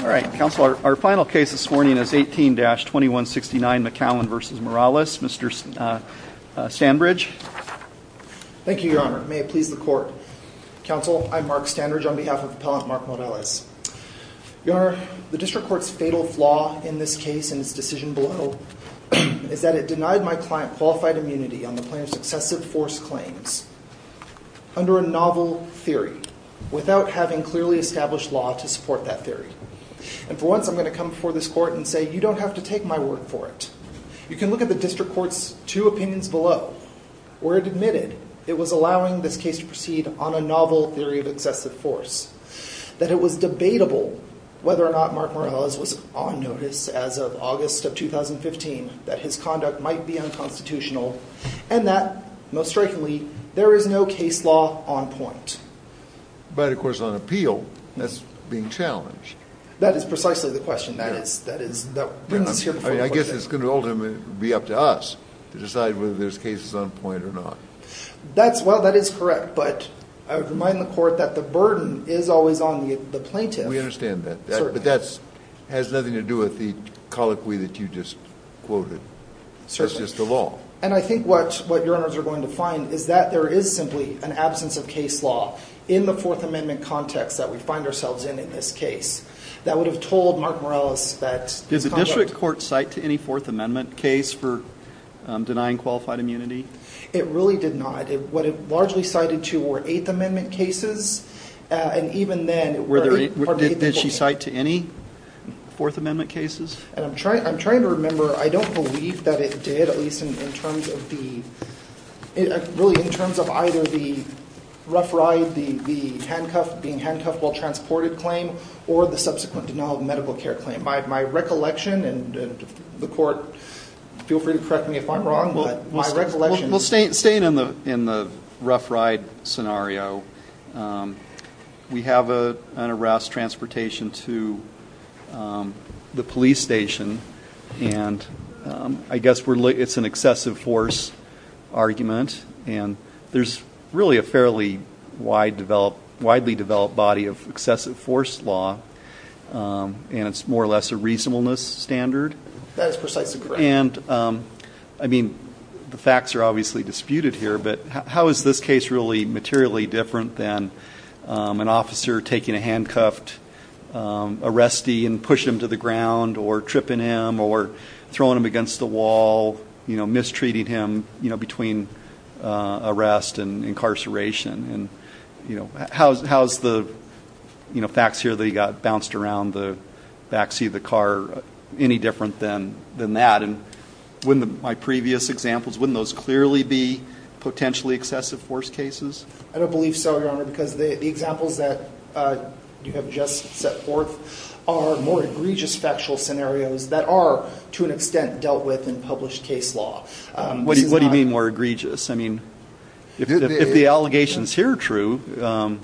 All right, counsel, our final case this morning is 18-2169 McCowan v. Morales. Mr. Standbridge. Thank you, Your Honor. May it please the Court. Counsel, I'm Mark Standbridge on behalf of Appellant Mark Morales. Your Honor, the District Court's fatal flaw in this case and its decision below is that it denied my client qualified immunity on the plaintiff's excessive force claims under a novel theory without having clearly established law to support that theory. And for once, I'm going to come before this Court and say you don't have to take my word for it. You can look at the District Court's two opinions below where it admitted it was allowing this case to proceed on a novel theory of excessive force, that it was debatable whether or not Mark Morales was on notice as of August of 2015 that his conduct might be unconstitutional, and that, most strikingly, there is no case law on point. But, of course, on appeal, that's being challenged. That is precisely the question. I guess it's going to ultimately be up to us to decide whether this case is on point or not. Well, that is correct, but I would remind the Court that the burden is always on the plaintiff. We understand that, but that has nothing to do with the colloquy that you just quoted. Certainly. That is the law. And I think what your Honors are going to find is that there is simply an absence of case law in the Fourth Amendment context that we find ourselves in in this case that would have told Mark Morales that his conduct... Did the District Court cite to any Fourth Amendment case for denying qualified immunity? It really did not. What it largely cited to were Eighth Amendment cases, and even then... Did she cite to any Fourth Amendment cases? I'm trying to remember. I don't believe that it did, at least in terms of either the rough ride, the handcuffed being handcuffed while transported claim, or the subsequent denial of medical care claim. My recollection, and the Court, feel free to correct me if I'm wrong, but my recollection... Staying in the rough ride scenario, we have an arrest, transportation to the police station, and I guess it's an excessive force argument, and there's really a fairly widely developed body of excessive force law, and it's more or less a reasonableness standard. That is precisely correct. The facts are obviously disputed here, but how is this case really materially different than an officer taking a handcuffed arrestee and pushing him to the ground or tripping him or throwing him against the wall, mistreating him between arrest and incarceration? How's the facts here that he got bounced around the back seat of the car any different than that? And wouldn't my previous examples, wouldn't those clearly be potentially excessive force cases? I don't believe so, Your Honor, because the examples that you have just set forth are more egregious factual scenarios that are, to an extent, dealt with in published case law. What do you mean more egregious? I mean, if the allegations here are true,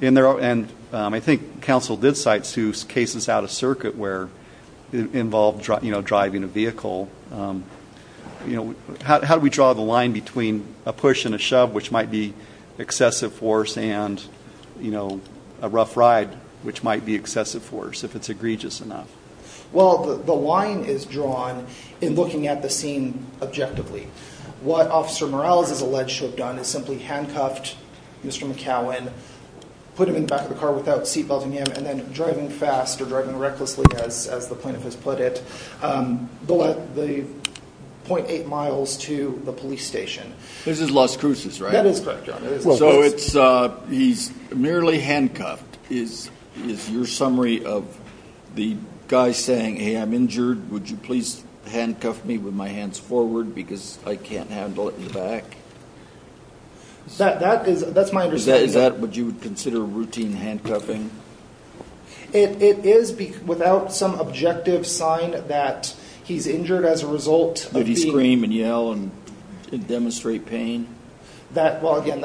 and I think counsel did cite two cases out of circuit where it involved driving a vehicle, how do we draw the line between a push and a shove, which might be excessive force, and a rough ride, which might be excessive force, if it's egregious enough? Well, the line is drawn in looking at the scene objectively. What Officer Morales is alleged to have done is simply handcuffed Mr. McCowan, put him in the back of the car without seatbelting him, and then driving fast or driving recklessly, as the plaintiff has put it, the 0.8 miles to the police station. This is Las Cruces, right? That is correct, Your Honor. So he's merely handcuffed is your summary of the guy saying, hey, I'm injured, would you please handcuff me with my hands forward because I can't handle it in the back? That's my understanding. Is that what you would consider routine handcuffing? It is without some objective sign that he's injured as a result of being ---- Did he scream and yell and demonstrate pain? Well, again,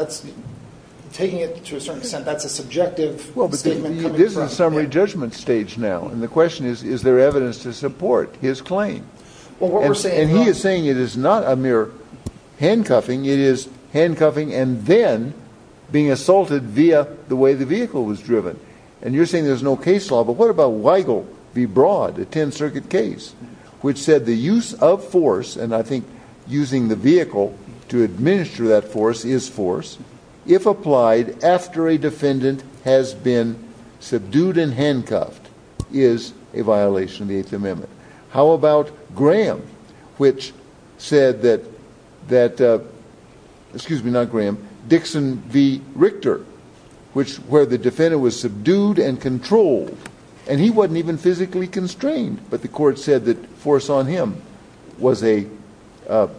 taking it to a certain extent, that's a subjective statement coming from him. It is a summary judgment stage now, and the question is, is there evidence to support his claim? And he is saying it is not a mere handcuffing. It is handcuffing and then being assaulted via the way the vehicle was driven. And you're saying there's no case law, but what about Weigel v. Broad, a 10th Circuit case, which said the use of force, and I think using the vehicle to administer that force is force, if applied after a defendant has been subdued and handcuffed is a violation of the Eighth Amendment. How about Graham, which said that, excuse me, not Graham, Dixon v. Richter, where the defendant was subdued and controlled, and he wasn't even physically constrained, but the court said that force on him was a, I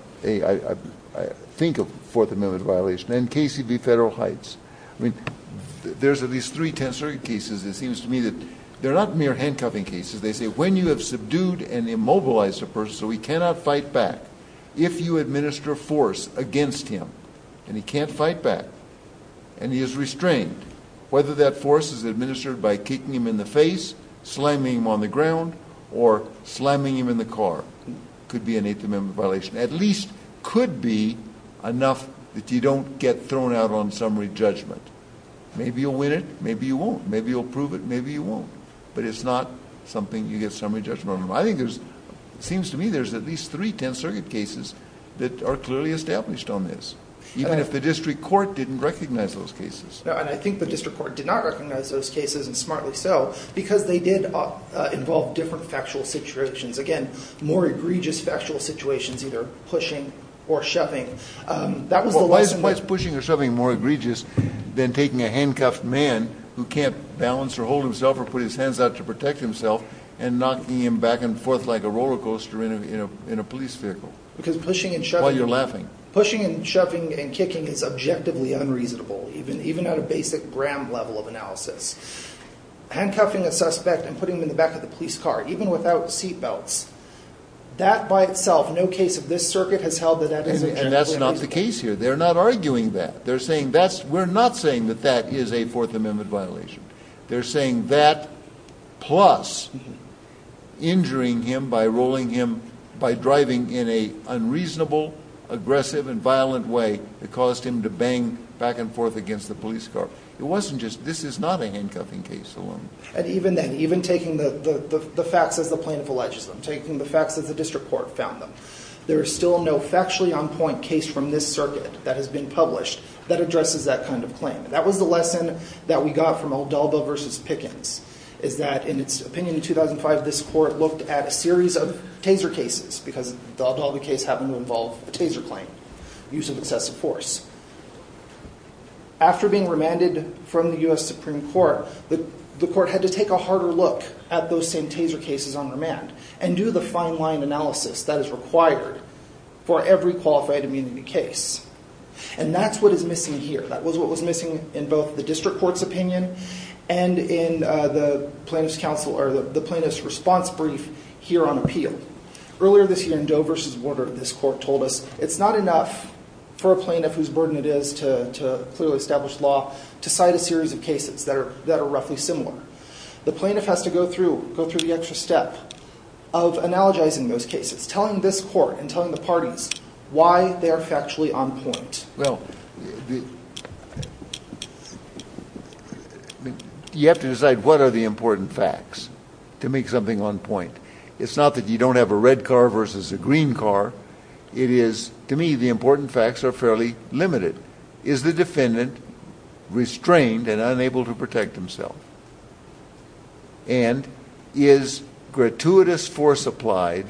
think, a Fourth Amendment violation, and Casey v. Federal Heights. I mean, there's at least three 10th Circuit cases, it seems to me, that they're not mere handcuffing cases. They say when you have subdued and immobilized a person so he cannot fight back, if you administer force against him and he can't fight back and he is restrained, whether that force is administered by kicking him in the face, slamming him on the ground, or slamming him in the car, could be an Eighth Amendment violation. At least could be enough that you don't get thrown out on summary judgment. Maybe you'll win it, maybe you won't. Maybe you'll prove it, maybe you won't. But it's not something you get summary judgment on. I think there's, it seems to me, there's at least three 10th Circuit cases that are clearly established on this, even if the district court didn't recognize those cases. And I think the district court did not recognize those cases, and smartly so, because they did involve different factual situations. Again, more egregious factual situations, either pushing or shoving. Why is pushing or shoving more egregious than taking a handcuffed man who can't balance or hold himself or put his hands out to protect himself and knocking him back and forth like a roller coaster in a police vehicle? Because pushing and shoving... While you're laughing. Even at a basic gram level of analysis. Handcuffing a suspect and putting him in the back of the police car, even without seatbelts. That by itself, no case of this circuit has held that that is... And that's not the case here. They're not arguing that. They're saying that's, we're not saying that that is a Fourth Amendment violation. They're saying that, plus, injuring him by rolling him, by driving in an unreasonable, aggressive, and violent way, that caused him to bang back and forth against the police car. It wasn't just... This is not a handcuffing case alone. And even then, even taking the facts as the plaintiff alleges them, taking the facts as the district court found them, there is still no factually on point case from this circuit that has been published that addresses that kind of claim. That was the lesson that we got from O'Dulba versus Pickens, is that, in its opinion, in 2005, this court looked at a series of taser cases, because the O'Dulba case happened to involve a taser claim, use of excessive force. After being remanded from the U.S. Supreme Court, the court had to take a harder look at those same taser cases on remand and do the fine-line analysis that is required for every qualified immunity case. And that's what is missing here. That was what was missing in both the district court's opinion and in the plaintiff's response brief here on appeal. Earlier this year, in Doe versus Warder, this court told us, it's not enough for a plaintiff whose burden it is to clearly establish law to cite a series of cases that are roughly similar. The plaintiff has to go through the extra step of analogizing those cases, telling this court and telling the parties why they are factually on point. Well, you have to decide what are the important facts to make something on point. It's not that you don't have a red car versus a green car. It is, to me, the important facts are fairly limited. Is the defendant restrained and unable to protect himself? And is gratuitous force applied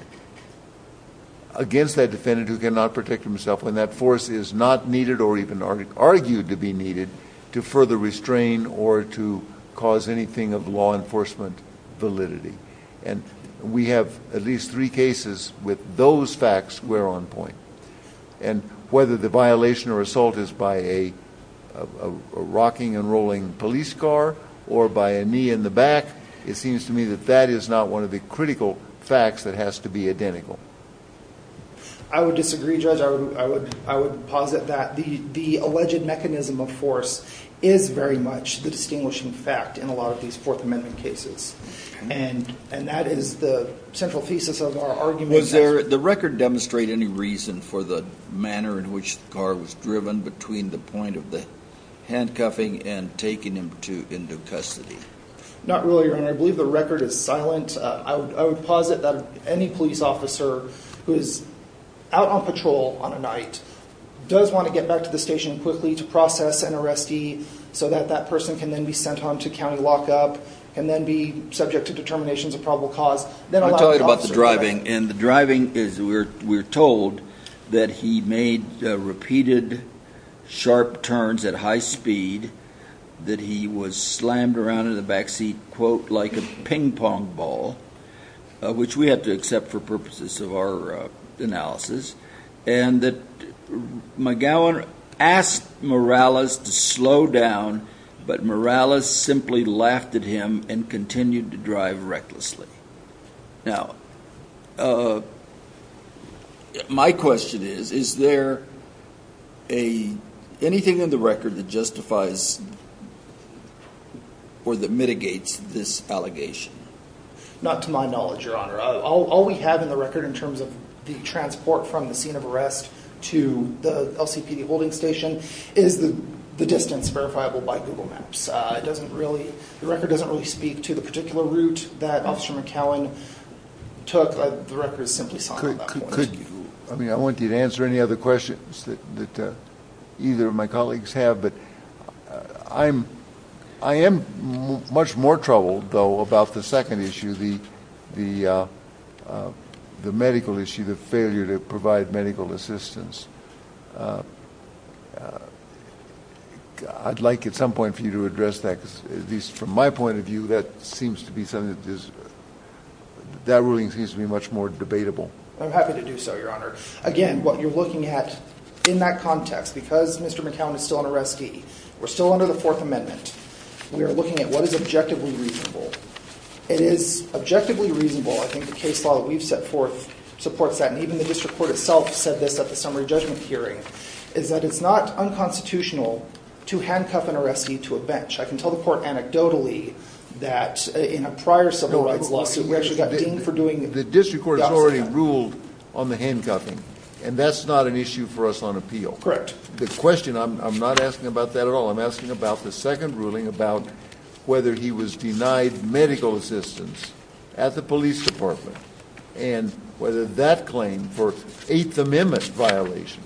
against that defendant who cannot protect himself when that force is not needed or even argued to be needed to further restrain or to cause anything of law enforcement validity? And we have at least three cases with those facts where on point. And whether the violation or assault is by a rocking and rolling police car or by a knee in the back, it seems to me that that is not one of the critical facts that has to be identical. I would disagree, Judge. I would posit that the alleged mechanism of force is very much the distinguishing fact in a lot of these Fourth Amendment cases. And that is the central thesis of our argument. Does the record demonstrate any reason for the manner in which the car was driven between the point of the handcuffing and taking him into custody? Not really, Your Honor. I believe the record is silent. I would posit that any police officer who is out on patrol on a night does want to get back to the station quickly to process an arrestee so that that person can then be sent on to county lockup and then be subject to determinations of probable cause. Let me tell you about the driving. In the driving, we're told that he made repeated sharp turns at high speed, that he was slammed around in the backseat, quote, like a ping-pong ball, which we have to accept for purposes of our analysis, and that McGowan asked Morales to slow down, but Morales simply laughed at him and continued to drive recklessly. Now, my question is, is there anything in the record that justifies or that mitigates this allegation? Not to my knowledge, Your Honor. All we have in the record in terms of the transport from the scene of arrest to the LCPD holding station is the distance verifiable by Google Maps. The record doesn't really speak to the particular route that Officer McGowan took. The record is simply silent at that point. I mean, I want you to answer any other questions that either of my colleagues have, but I am much more troubled, though, about the second issue, the medical issue, the failure to provide medical assistance. I'd like at some point for you to address that, because at least from my point of view, that seems to be something that is— that ruling seems to be much more debatable. I'm happy to do so, Your Honor. Again, what you're looking at in that context, because Mr. McGowan is still on arrestee, we're still under the Fourth Amendment, we are looking at what is objectively reasonable. It is objectively reasonable. I think the case law that we've set forth supports that, and even the district court itself said this at the summary judgment hearing, is that it's not unconstitutional to handcuff an arrestee to a bench. I can tell the court anecdotally that in a prior civil rights lawsuit, we actually got deemed for doing the opposite. The district court has already ruled on the handcuffing, and that's not an issue for us on appeal. Correct. The question—I'm not asking about that at all. I'm asking about the second ruling about whether he was denied medical assistance at the police department, and whether that claim for Eighth Amendment violation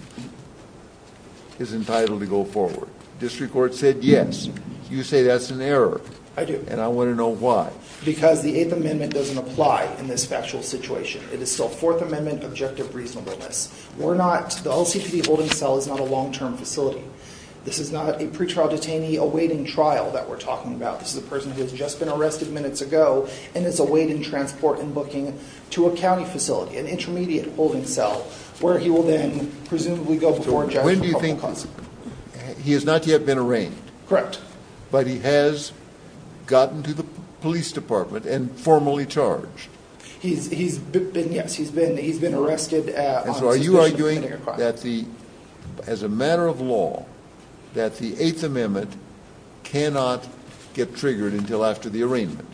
is entitled to go forward. District court said yes. You say that's an error. I do. And I want to know why. Because the Eighth Amendment doesn't apply in this factual situation. It is still Fourth Amendment objective reasonableness. We're not—the LCPB holding cell is not a long-term facility. This is not a pretrial detainee awaiting trial that we're talking about. This is a person who has just been arrested minutes ago, and is awaiting transport and booking to a county facility, an intermediate holding cell, where he will then presumably go before a judge for probable cause. So when do you think—he has not yet been arraigned. Correct. But he has gotten to the police department and formally charged. He's been—yes, he's been arrested on suspicion of committing a crime. As a matter of law, that the Eighth Amendment cannot get triggered until after the arraignment.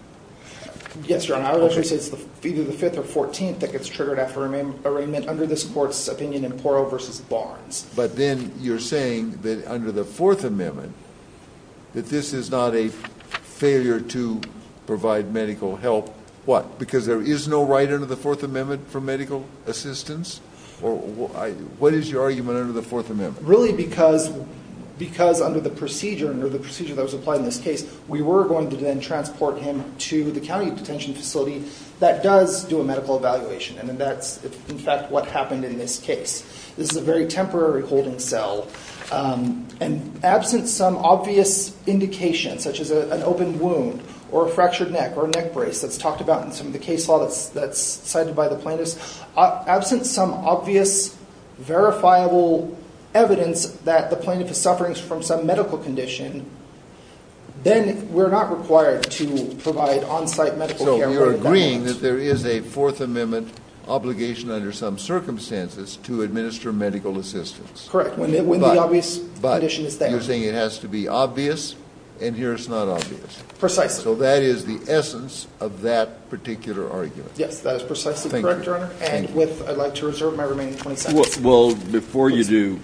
Yes, Your Honor. I would say it's either the 5th or 14th that gets triggered after arraignment under this court's opinion in Porro v. Barnes. But then you're saying that under the Fourth Amendment, that this is not a failure to provide medical help. What? Because there is no right under the Fourth Amendment for medical assistance? What is your argument under the Fourth Amendment? Really because under the procedure that was applied in this case, we were going to then transport him to the county detention facility that does do a medical evaluation. And that's, in fact, what happened in this case. This is a very temporary holding cell. And absent some obvious indication, such as an open wound or a fractured neck or a neck brace that's talked about in some of the case law that's cited by the plaintiffs, absent some obvious verifiable evidence that the plaintiff is suffering from some medical condition, then we're not required to provide on-site medical care. So you're agreeing that there is a Fourth Amendment obligation under some circumstances to administer medical assistance. Correct, when the obvious condition is there. But you're saying it has to be obvious, and here it's not obvious. Precisely. So that is the essence of that particular argument. Yes, that is precisely correct, Your Honor. And I'd like to reserve my remaining 20 seconds. Well, before you do,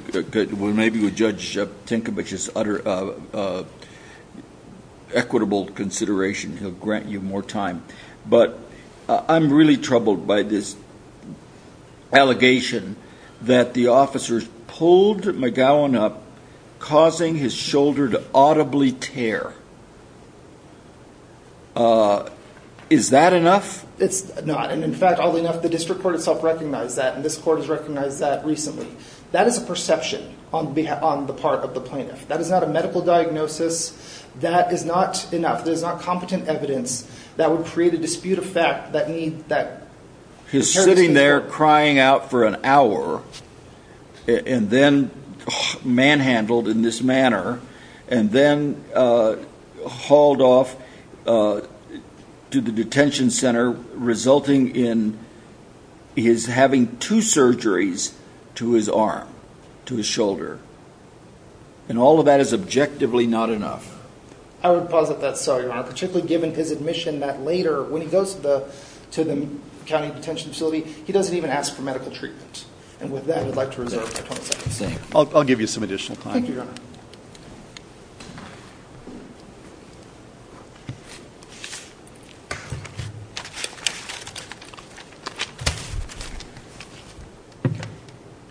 maybe with Judge Tinkovich's equitable consideration, he'll grant you more time. But I'm really troubled by this allegation that the officers pulled McGowan up, causing his shoulder to audibly tear. Is that enough? It's not. And, in fact, oddly enough, the district court itself recognized that. And this court has recognized that recently. That is a perception on the part of the plaintiff. That is not a medical diagnosis. That is not enough. That is not competent evidence that would create a dispute of fact. He's sitting there crying out for an hour, and then manhandled in this manner, and then hauled off to the detention center, resulting in his having two surgeries to his arm, to his shoulder. And all of that is objectively not enough. I would posit that's so, Your Honor, particularly given his admission that later, when he goes to the county detention facility, he doesn't even ask for medical treatment. And with that, I'd like to reserve my 20 seconds. I'll give you some additional time. Thank you, Your Honor.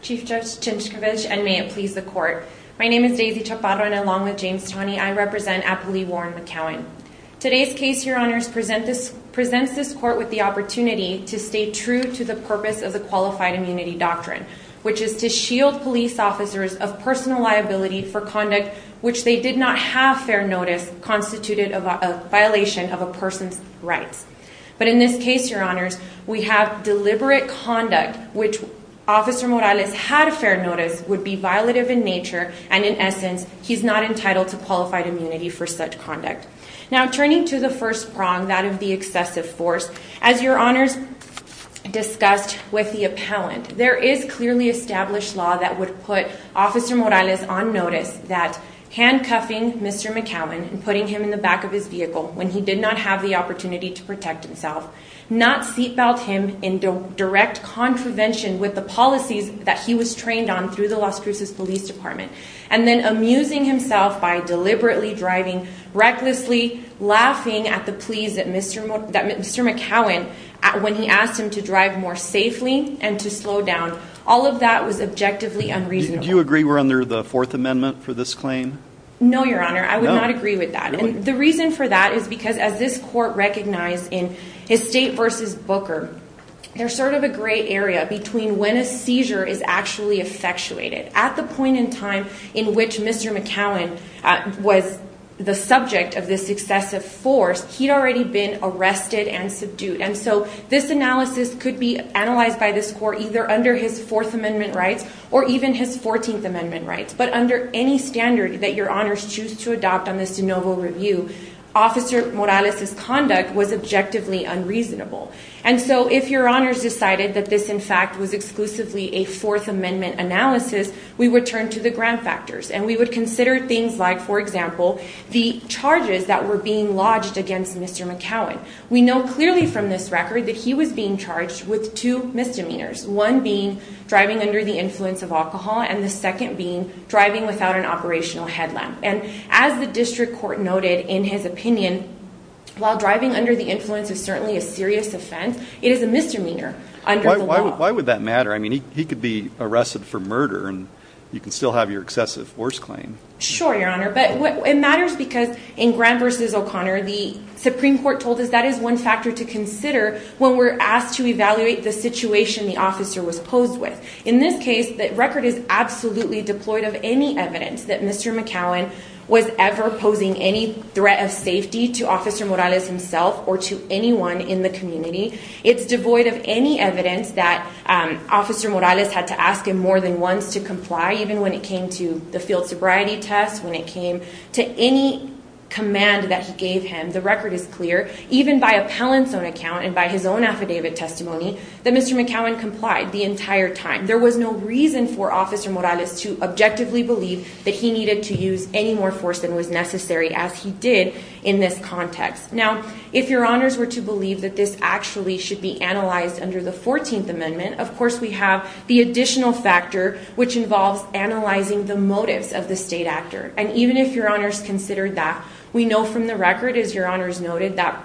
Chief Judge Tinkovich, and may it please the court. My name is Daisy Chaparro, and along with James Taney, I represent Appley Warren McCowan. Today's case, Your Honors, presents this court with the opportunity to stay true to the purpose of the qualified immunity doctrine, which is to shield police officers of personal liability for conduct which they did not have fair notice, constituted a violation of a person's rights. But in this case, Your Honors, we have deliberate conduct, which Officer Morales had fair notice, would be violative in nature, and in essence, he's not entitled to qualified immunity for such conduct. Now, turning to the first prong, that of the excessive force, as Your Honors discussed with the appellant, there is clearly established law that would put Officer Morales on notice that handcuffing Mr. McCowan and putting him in the back of his vehicle when he did not have the opportunity to protect himself, not seat belt him in direct contravention with the policies that he was trained on through the Las Cruces Police Department, and then amusing himself by deliberately driving recklessly, laughing at the pleas that Mr. McCowan, when he asked him to drive more safely and to slow down, all of that was objectively unreasonable. Do you agree we're under the Fourth Amendment for this claim? No, Your Honor, I would not agree with that. And the reason for that is because as this court recognized in his State v. Booker, there's sort of a gray area between when a seizure is actually effectuated. At the point in time in which Mr. McCowan was the subject of this excessive force, he'd already been arrested and subdued. And so this analysis could be analyzed by this court either under his Fourth Amendment rights or even his Fourteenth Amendment rights. But under any standard that Your Honors choose to adopt on this de novo review, Officer Morales' conduct was objectively unreasonable. And so if Your Honors decided that this, in fact, was exclusively a Fourth Amendment analysis, we would turn to the grand factors. And we would consider things like, for example, the charges that were being lodged against Mr. McCowan. We know clearly from this record that he was being charged with two misdemeanors. One being driving under the influence of alcohol and the second being driving without an operational headlamp. And as the district court noted in his opinion, while driving under the influence is certainly a serious offense, it is a misdemeanor under the law. Why would that matter? I mean, he could be arrested for murder and you can still have your excessive force claim. Sure, Your Honor. But it matters because in Graham v. O'Connor, the Supreme Court told us that is one factor to consider when we're asked to evaluate the situation the officer was posed with. In this case, the record is absolutely deployed of any evidence that Mr. McCowan was ever posing any threat of safety to Officer Morales himself or to anyone in the community. It's devoid of any evidence that Officer Morales had to ask him more than once to comply, even when it came to the field sobriety test, when it came to any command that he gave him. The record is clear, even by appellant's own account and by his own affidavit testimony, that Mr. McCowan complied the entire time. There was no reason for Officer Morales to objectively believe that he needed to use any more force than was necessary, as he did in this context. Now, if Your Honors were to believe that this actually should be analyzed under the 14th Amendment, of course we have the additional factor which involves analyzing the motives of the state actor. And even if Your Honors considered that, we know from the record, as Your Honors noted, that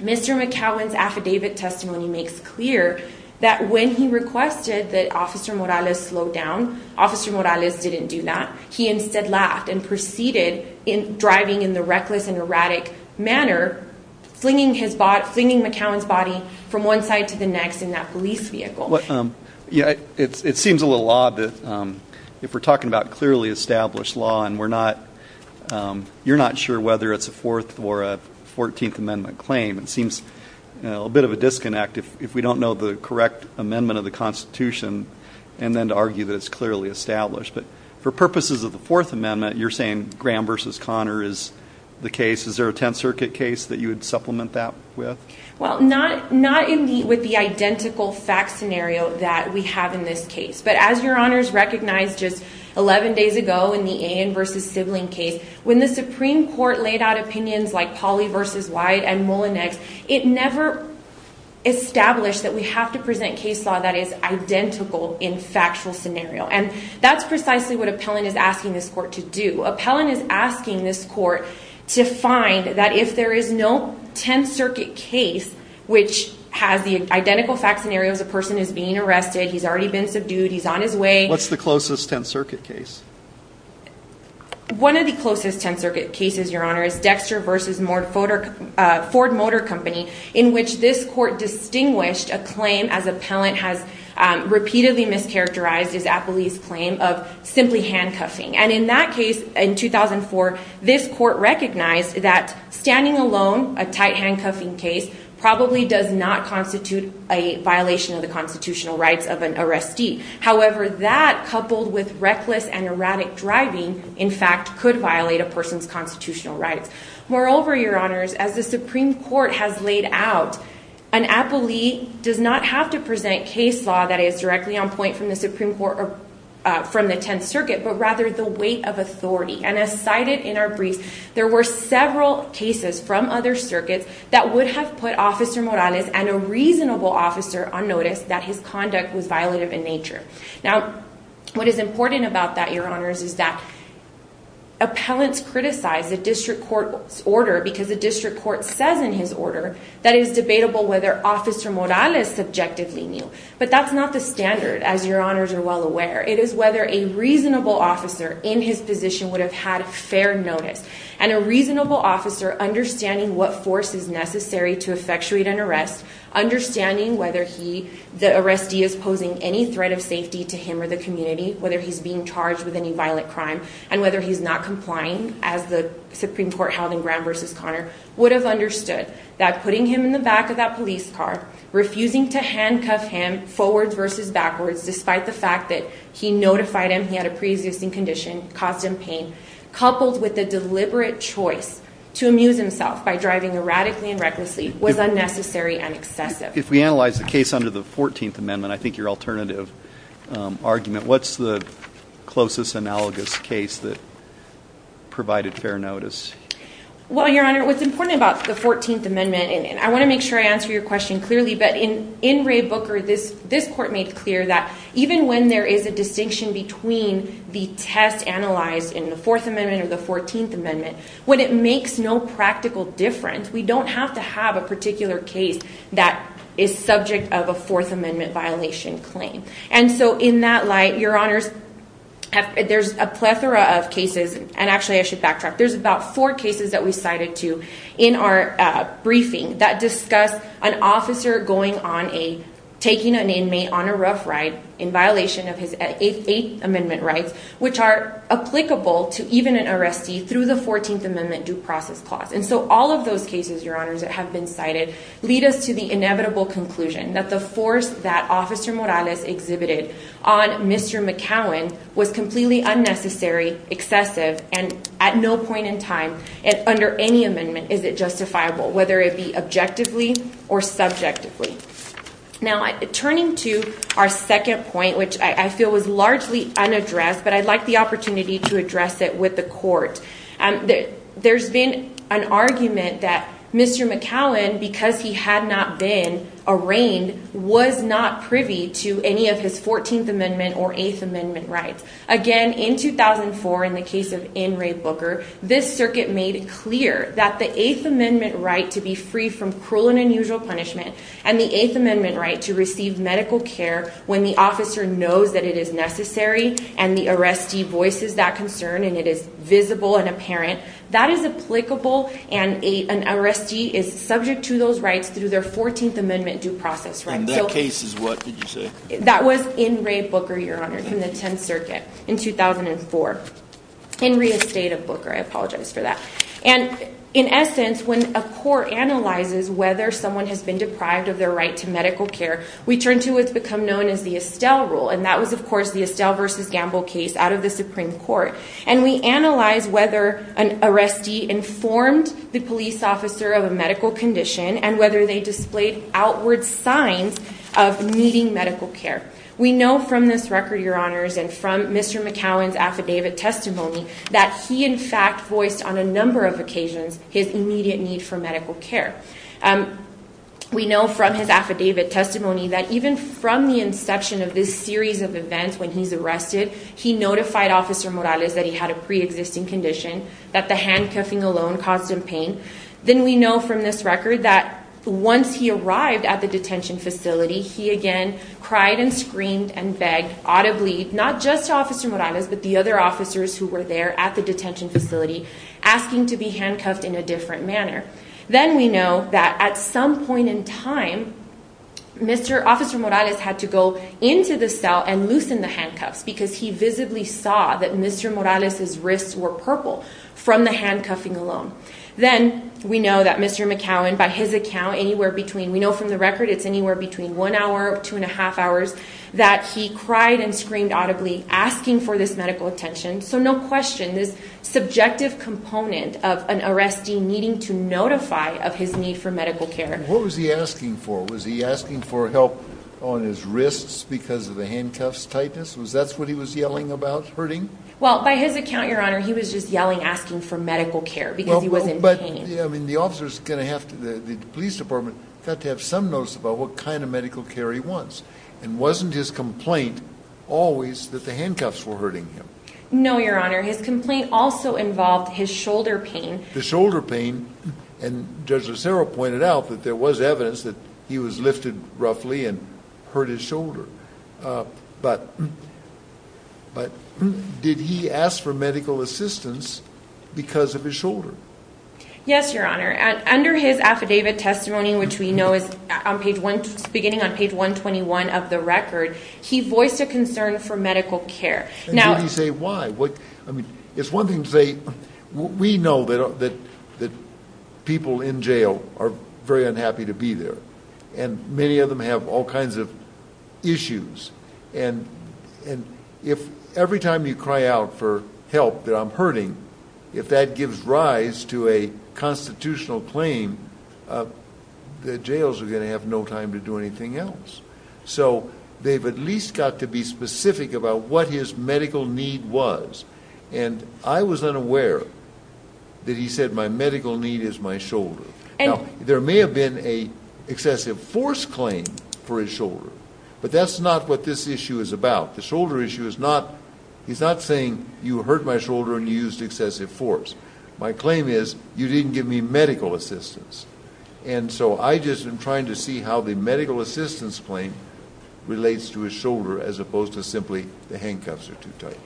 Mr. McCowan's affidavit testimony makes clear that when he requested that Officer Morales slow down, Officer Morales didn't do that. He instead laughed and proceeded, driving in the reckless and erratic manner, flinging McCowan's body from one side to the next in that police vehicle. It seems a little odd that if we're talking about clearly established law and we're not, you're not sure whether it's a 4th or a 14th Amendment claim. It seems a bit of a disconnect if we don't know the correct amendment of the Constitution and then to argue that it's clearly established. But for purposes of the 4th Amendment, you're saying Graham v. Connor is the case. Is there a Tenth Circuit case that you would supplement that with? Well, not in the, with the identical fact scenario that we have in this case. But as Your Honors recognized just 11 days ago in the Ayin v. Sibling case, when the Supreme Court laid out opinions like Pauley v. White and Mullinex, it never established that we have to present case law that is identical in factual scenario. And that's precisely what Appellant is asking this court to do. Appellant is asking this court to find that if there is no Tenth Circuit case which has the identical fact scenario as a person is being arrested, he's already been subdued, he's on his way. What's the closest Tenth Circuit case? One of the closest Tenth Circuit cases, Your Honor, is Dexter v. Ford Motor Company in which this court distinguished a claim as Appellant has repeatedly mischaracterized as Appellee's claim of simply handcuffing. And in that case, in 2004, this court recognized that standing alone, a tight handcuffing case, probably does not constitute a violation of the constitutional rights of an arrestee. However, that coupled with reckless and erratic driving, in fact, could violate a person's constitutional rights. Moreover, Your Honors, as the Supreme Court has laid out, an Appellee does not have to present case law that is directly on point from the Supreme Court or from the Tenth Circuit, but rather the weight of authority. And as cited in our briefs, there were several cases from other circuits that would have put Officer Morales and a reasonable officer on notice that his conduct was violative in nature. Now, what is important about that, Your Honors, is that Appellants criticize the District Court's order because the District Court says in his order that it is debatable whether Officer Morales subjectively knew. But that's not the standard, as Your Honors are well aware. It is whether a reasonable officer in his position would have had fair notice, and a reasonable officer understanding what force is necessary to effectuate an arrest, understanding whether the arrestee is posing any threat of safety to him or the community, whether he's being charged with any violent crime, and whether he's not complying, as the Supreme Court held in Graham v. Conner, would have understood that putting him in the back of that police car, refusing to handcuff him forwards versus backwards, despite the fact that he notified him he had a pre-existing condition, caused him pain, coupled with the deliberate choice to amuse himself by driving erratically and recklessly, was unnecessary and excessive. If we analyze the case under the 14th Amendment, I think your alternative argument, what's the closest analogous case that provided fair notice? Well, Your Honor, what's important about the 14th Amendment, and I want to make sure I answer your question clearly, but in Ray Booker, this Court made clear that even when there is a distinction between the test analyzed in the 4th Amendment or the 14th Amendment, when it makes no practical difference, we don't have to have a particular case that is subject of a 4th Amendment violation claim. And so in that light, Your Honors, there's a plethora of cases, and actually I should backtrack, there's about four cases that we cited to in our briefing that discussed an officer going on a, taking an inmate on a rough ride, in violation of his 8th Amendment rights, which are applicable to even an arrestee through the 14th Amendment due process clause. And so all of those cases, Your Honors, that have been cited lead us to the inevitable conclusion that the force that Officer Morales exhibited on Mr. McCowan was completely unnecessary, excessive, and at no point in time, under any amendment, is it justifiable, whether it be objectively or subjectively. Now, turning to our second point, which I feel was largely unaddressed, but I'd like the opportunity to address it with the Court. There's been an argument that Mr. McCowan, because he had not been arraigned, was not privy to any of his 14th Amendment or 8th Amendment rights. Again, in 2004, in the case of in Ray Booker, this Circuit made it clear that the 8th Amendment right to be free from cruel and unusual punishment and the 8th Amendment right to receive medical care when the officer knows that it is necessary and the arrestee voices that concern and it is visible and apparent, that is applicable and an arrestee is subject to those rights through their 14th Amendment due process right. And that case is what, did you say? That was in Ray Booker, Your Honor, from the 10th Circuit in 2004. In re-estate of Booker, I apologize for that. And in essence, when a court analyzes whether someone has been deprived of their right to medical care, we turn to what's become known as the Estelle Rule. And that was, of course, the Estelle v. Gamble case out of the Supreme Court. And we analyze whether an arrestee informed the police officer of a medical condition and whether they displayed outward signs of needing medical care. We know from this record, Your Honors, and from Mr. McCowan's affidavit testimony, that he in fact voiced on a number of occasions his immediate need for medical care. We know from his affidavit testimony that even from the inception of this series of events when he's arrested, he notified Officer Morales that he had a pre-existing condition, that the handcuffing alone caused him pain. Then we know from this record that once he arrived at the detention facility, he again cried and screamed and begged audibly, not just to Officer Morales, but the other officers who were there at the detention facility asking to be handcuffed in a different manner. Then we know that at some point in time, Mr. Officer Morales had to go into the cell and loosen the handcuffs because he visibly saw that Mr. Morales' wrists were purple from the handcuffing alone. Then we know that Mr. McCowan, by his account, anywhere between, we know from the record it's anywhere between one hour, two and a half hours, that he cried and screamed audibly asking for this medical attention. So no question, this subjective component of an arrestee needing to notify of his need for medical care. What was he asking for? Was he asking for help on his wrists because of the handcuffs' tightness? Was that what he was yelling about hurting? Well, by his account, Your Honor, he was just yelling, asking for medical care because he was in pain. The police department got to have some notice about what kind of medical care he wants, and wasn't his complaint always that the handcuffs were hurting him? No, Your Honor. His complaint also involved his shoulder pain. The shoulder pain, and Judge Lucero pointed out that there was evidence that he was lifted roughly and hurt his shoulder, but did he ask for medical assistance because of his shoulder? Yes, Your Honor. Under his affidavit testimony, which we know is beginning on page 121 of the record, he voiced a concern for medical care. And did he say why? I mean, it's one thing to say we know that people in jail are very unhappy to be there, and many of them have all kinds of issues. And if every time you cry out for help that I'm hurting, if that gives rise to a constitutional claim, the jails are going to have no time to do anything else. So they've at least got to be specific about what his medical need was. And I was unaware that he said my medical need is my shoulder. Now, there may have been an excessive force claim for his shoulder, but that's not what this issue is about. The shoulder issue is not – he's not saying you hurt my shoulder and you used excessive force. My claim is you didn't give me medical assistance. And so I just am trying to see how the medical assistance claim relates to his shoulder as opposed to simply the handcuffs are too tight.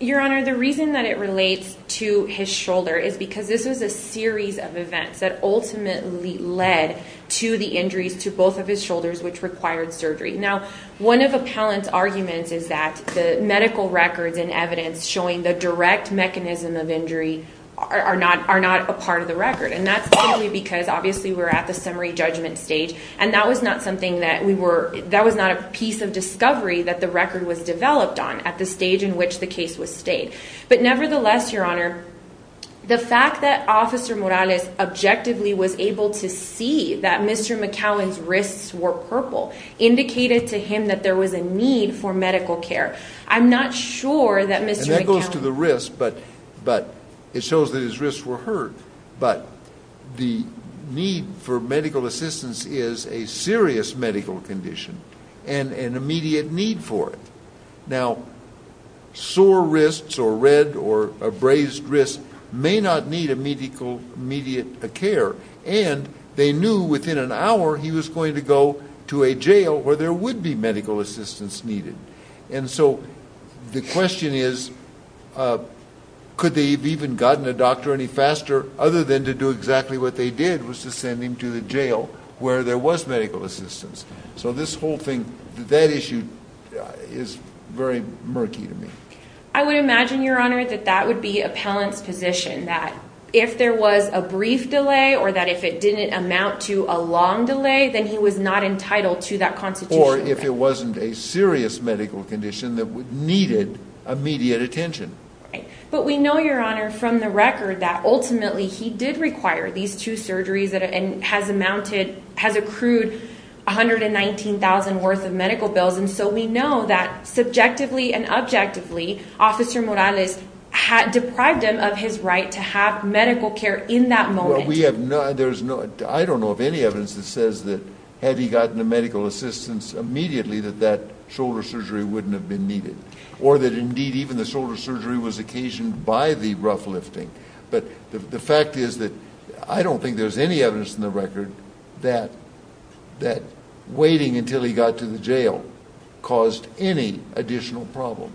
Your Honor, the reason that it relates to his shoulder is because this was a series of events that ultimately led to the injuries to both of his shoulders, which required surgery. Now, one of Appellant's arguments is that the medical records and evidence showing the direct mechanism of injury are not a part of the record. And that's simply because obviously we're at the summary judgment stage, and that was not something that we were – that was not a piece of discovery that the record was developed on at the stage in which the case was stayed. But nevertheless, Your Honor, the fact that Officer Morales objectively was able to see that Mr. McCowan's wrists were purple indicated to him that there was a need for medical care. I'm not sure that Mr. McCowan – And that goes to the wrist, but it shows that his wrists were hurt. But the need for medical assistance is a serious medical condition and an immediate need for it. Now, sore wrists or red or abrased wrists may not need immediate care, and they knew within an hour he was going to go to a jail where there would be medical assistance needed. And so the question is, could they have even gotten a doctor any faster other than to do exactly what they did, which was to send him to the jail where there was medical assistance? So this whole thing – that issue is very murky to me. I would imagine, Your Honor, that that would be appellant's position, that if there was a brief delay or that if it didn't amount to a long delay, then he was not entitled to that constitutional right. Or if it wasn't a serious medical condition that needed immediate attention. But we know, Your Honor, from the record that ultimately he did require these two surgeries and has amounted – has accrued $119,000 worth of medical bills. And so we know that subjectively and objectively, Officer Morales deprived him of his right to have medical care in that moment. Well, we have no – there is no – I don't know of any evidence that says that had he gotten the medical assistance immediately that that shoulder surgery wouldn't have been needed. Or that indeed even the shoulder surgery was occasioned by the rough lifting. But the fact is that I don't think there's any evidence in the record that waiting until he got to the jail caused any additional problem.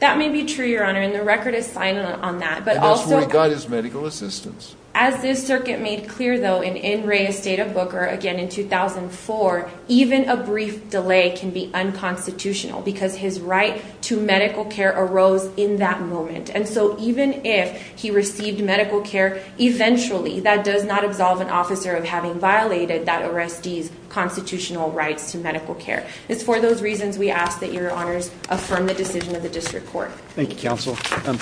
That may be true, Your Honor, and the record is signed on that. And that's where he got his medical assistance. As this circuit made clear, though, and in Reyes State of Booker, again in 2004, even a brief delay can be unconstitutional because his right to medical care arose in that moment. And so even if he received medical care eventually, that does not absolve an officer of having violated that arrestee's constitutional rights to medical care. It's for those reasons we ask that Your Honors affirm the decision of the District Court. Thank you, Counsel. May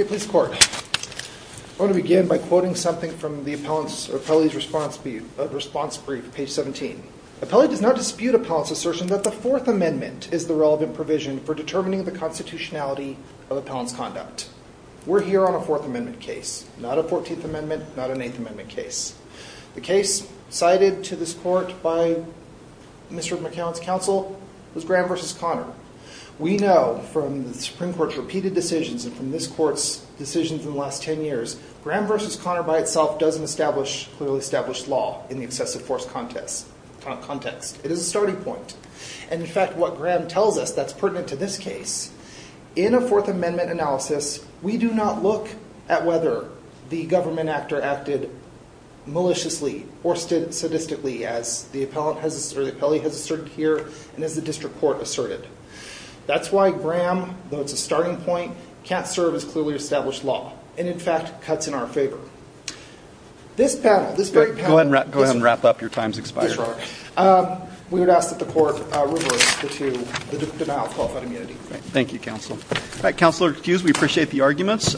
it please the Court. I want to begin by quoting something from the appellate's response brief, page 17. Appellate does not dispute appellant's assertion that the Fourth Amendment is the relevant provision for determining the constitutionality of appellant's conduct. We're here on a Fourth Amendment case, not a Fourteenth Amendment, not an Eighth Amendment case. The case cited to this Court by Mr. McCown's counsel was Graham v. Conner. We know from the Supreme Court's repeated decisions and from this Court's decisions in the last ten years, Graham v. Conner by itself doesn't establish clearly established law in the excessive force context. It is a starting point. And in fact, what Graham tells us that's pertinent to this case, in a Fourth Amendment analysis, we do not look at whether the government actor acted maliciously or sadistically as the appellee has asserted here and as the District Court asserted. That's why Graham, though it's a starting point, can't serve as clearly established law. And in fact, cuts in our favor. This panel, this very panel. Go ahead and wrap up. Your time's expired. Yes, Your Honor. We would ask that the Court reverse the denial of qualified immunity. Thank you, Counsel. All right, Counselor Hughes, we appreciate the arguments.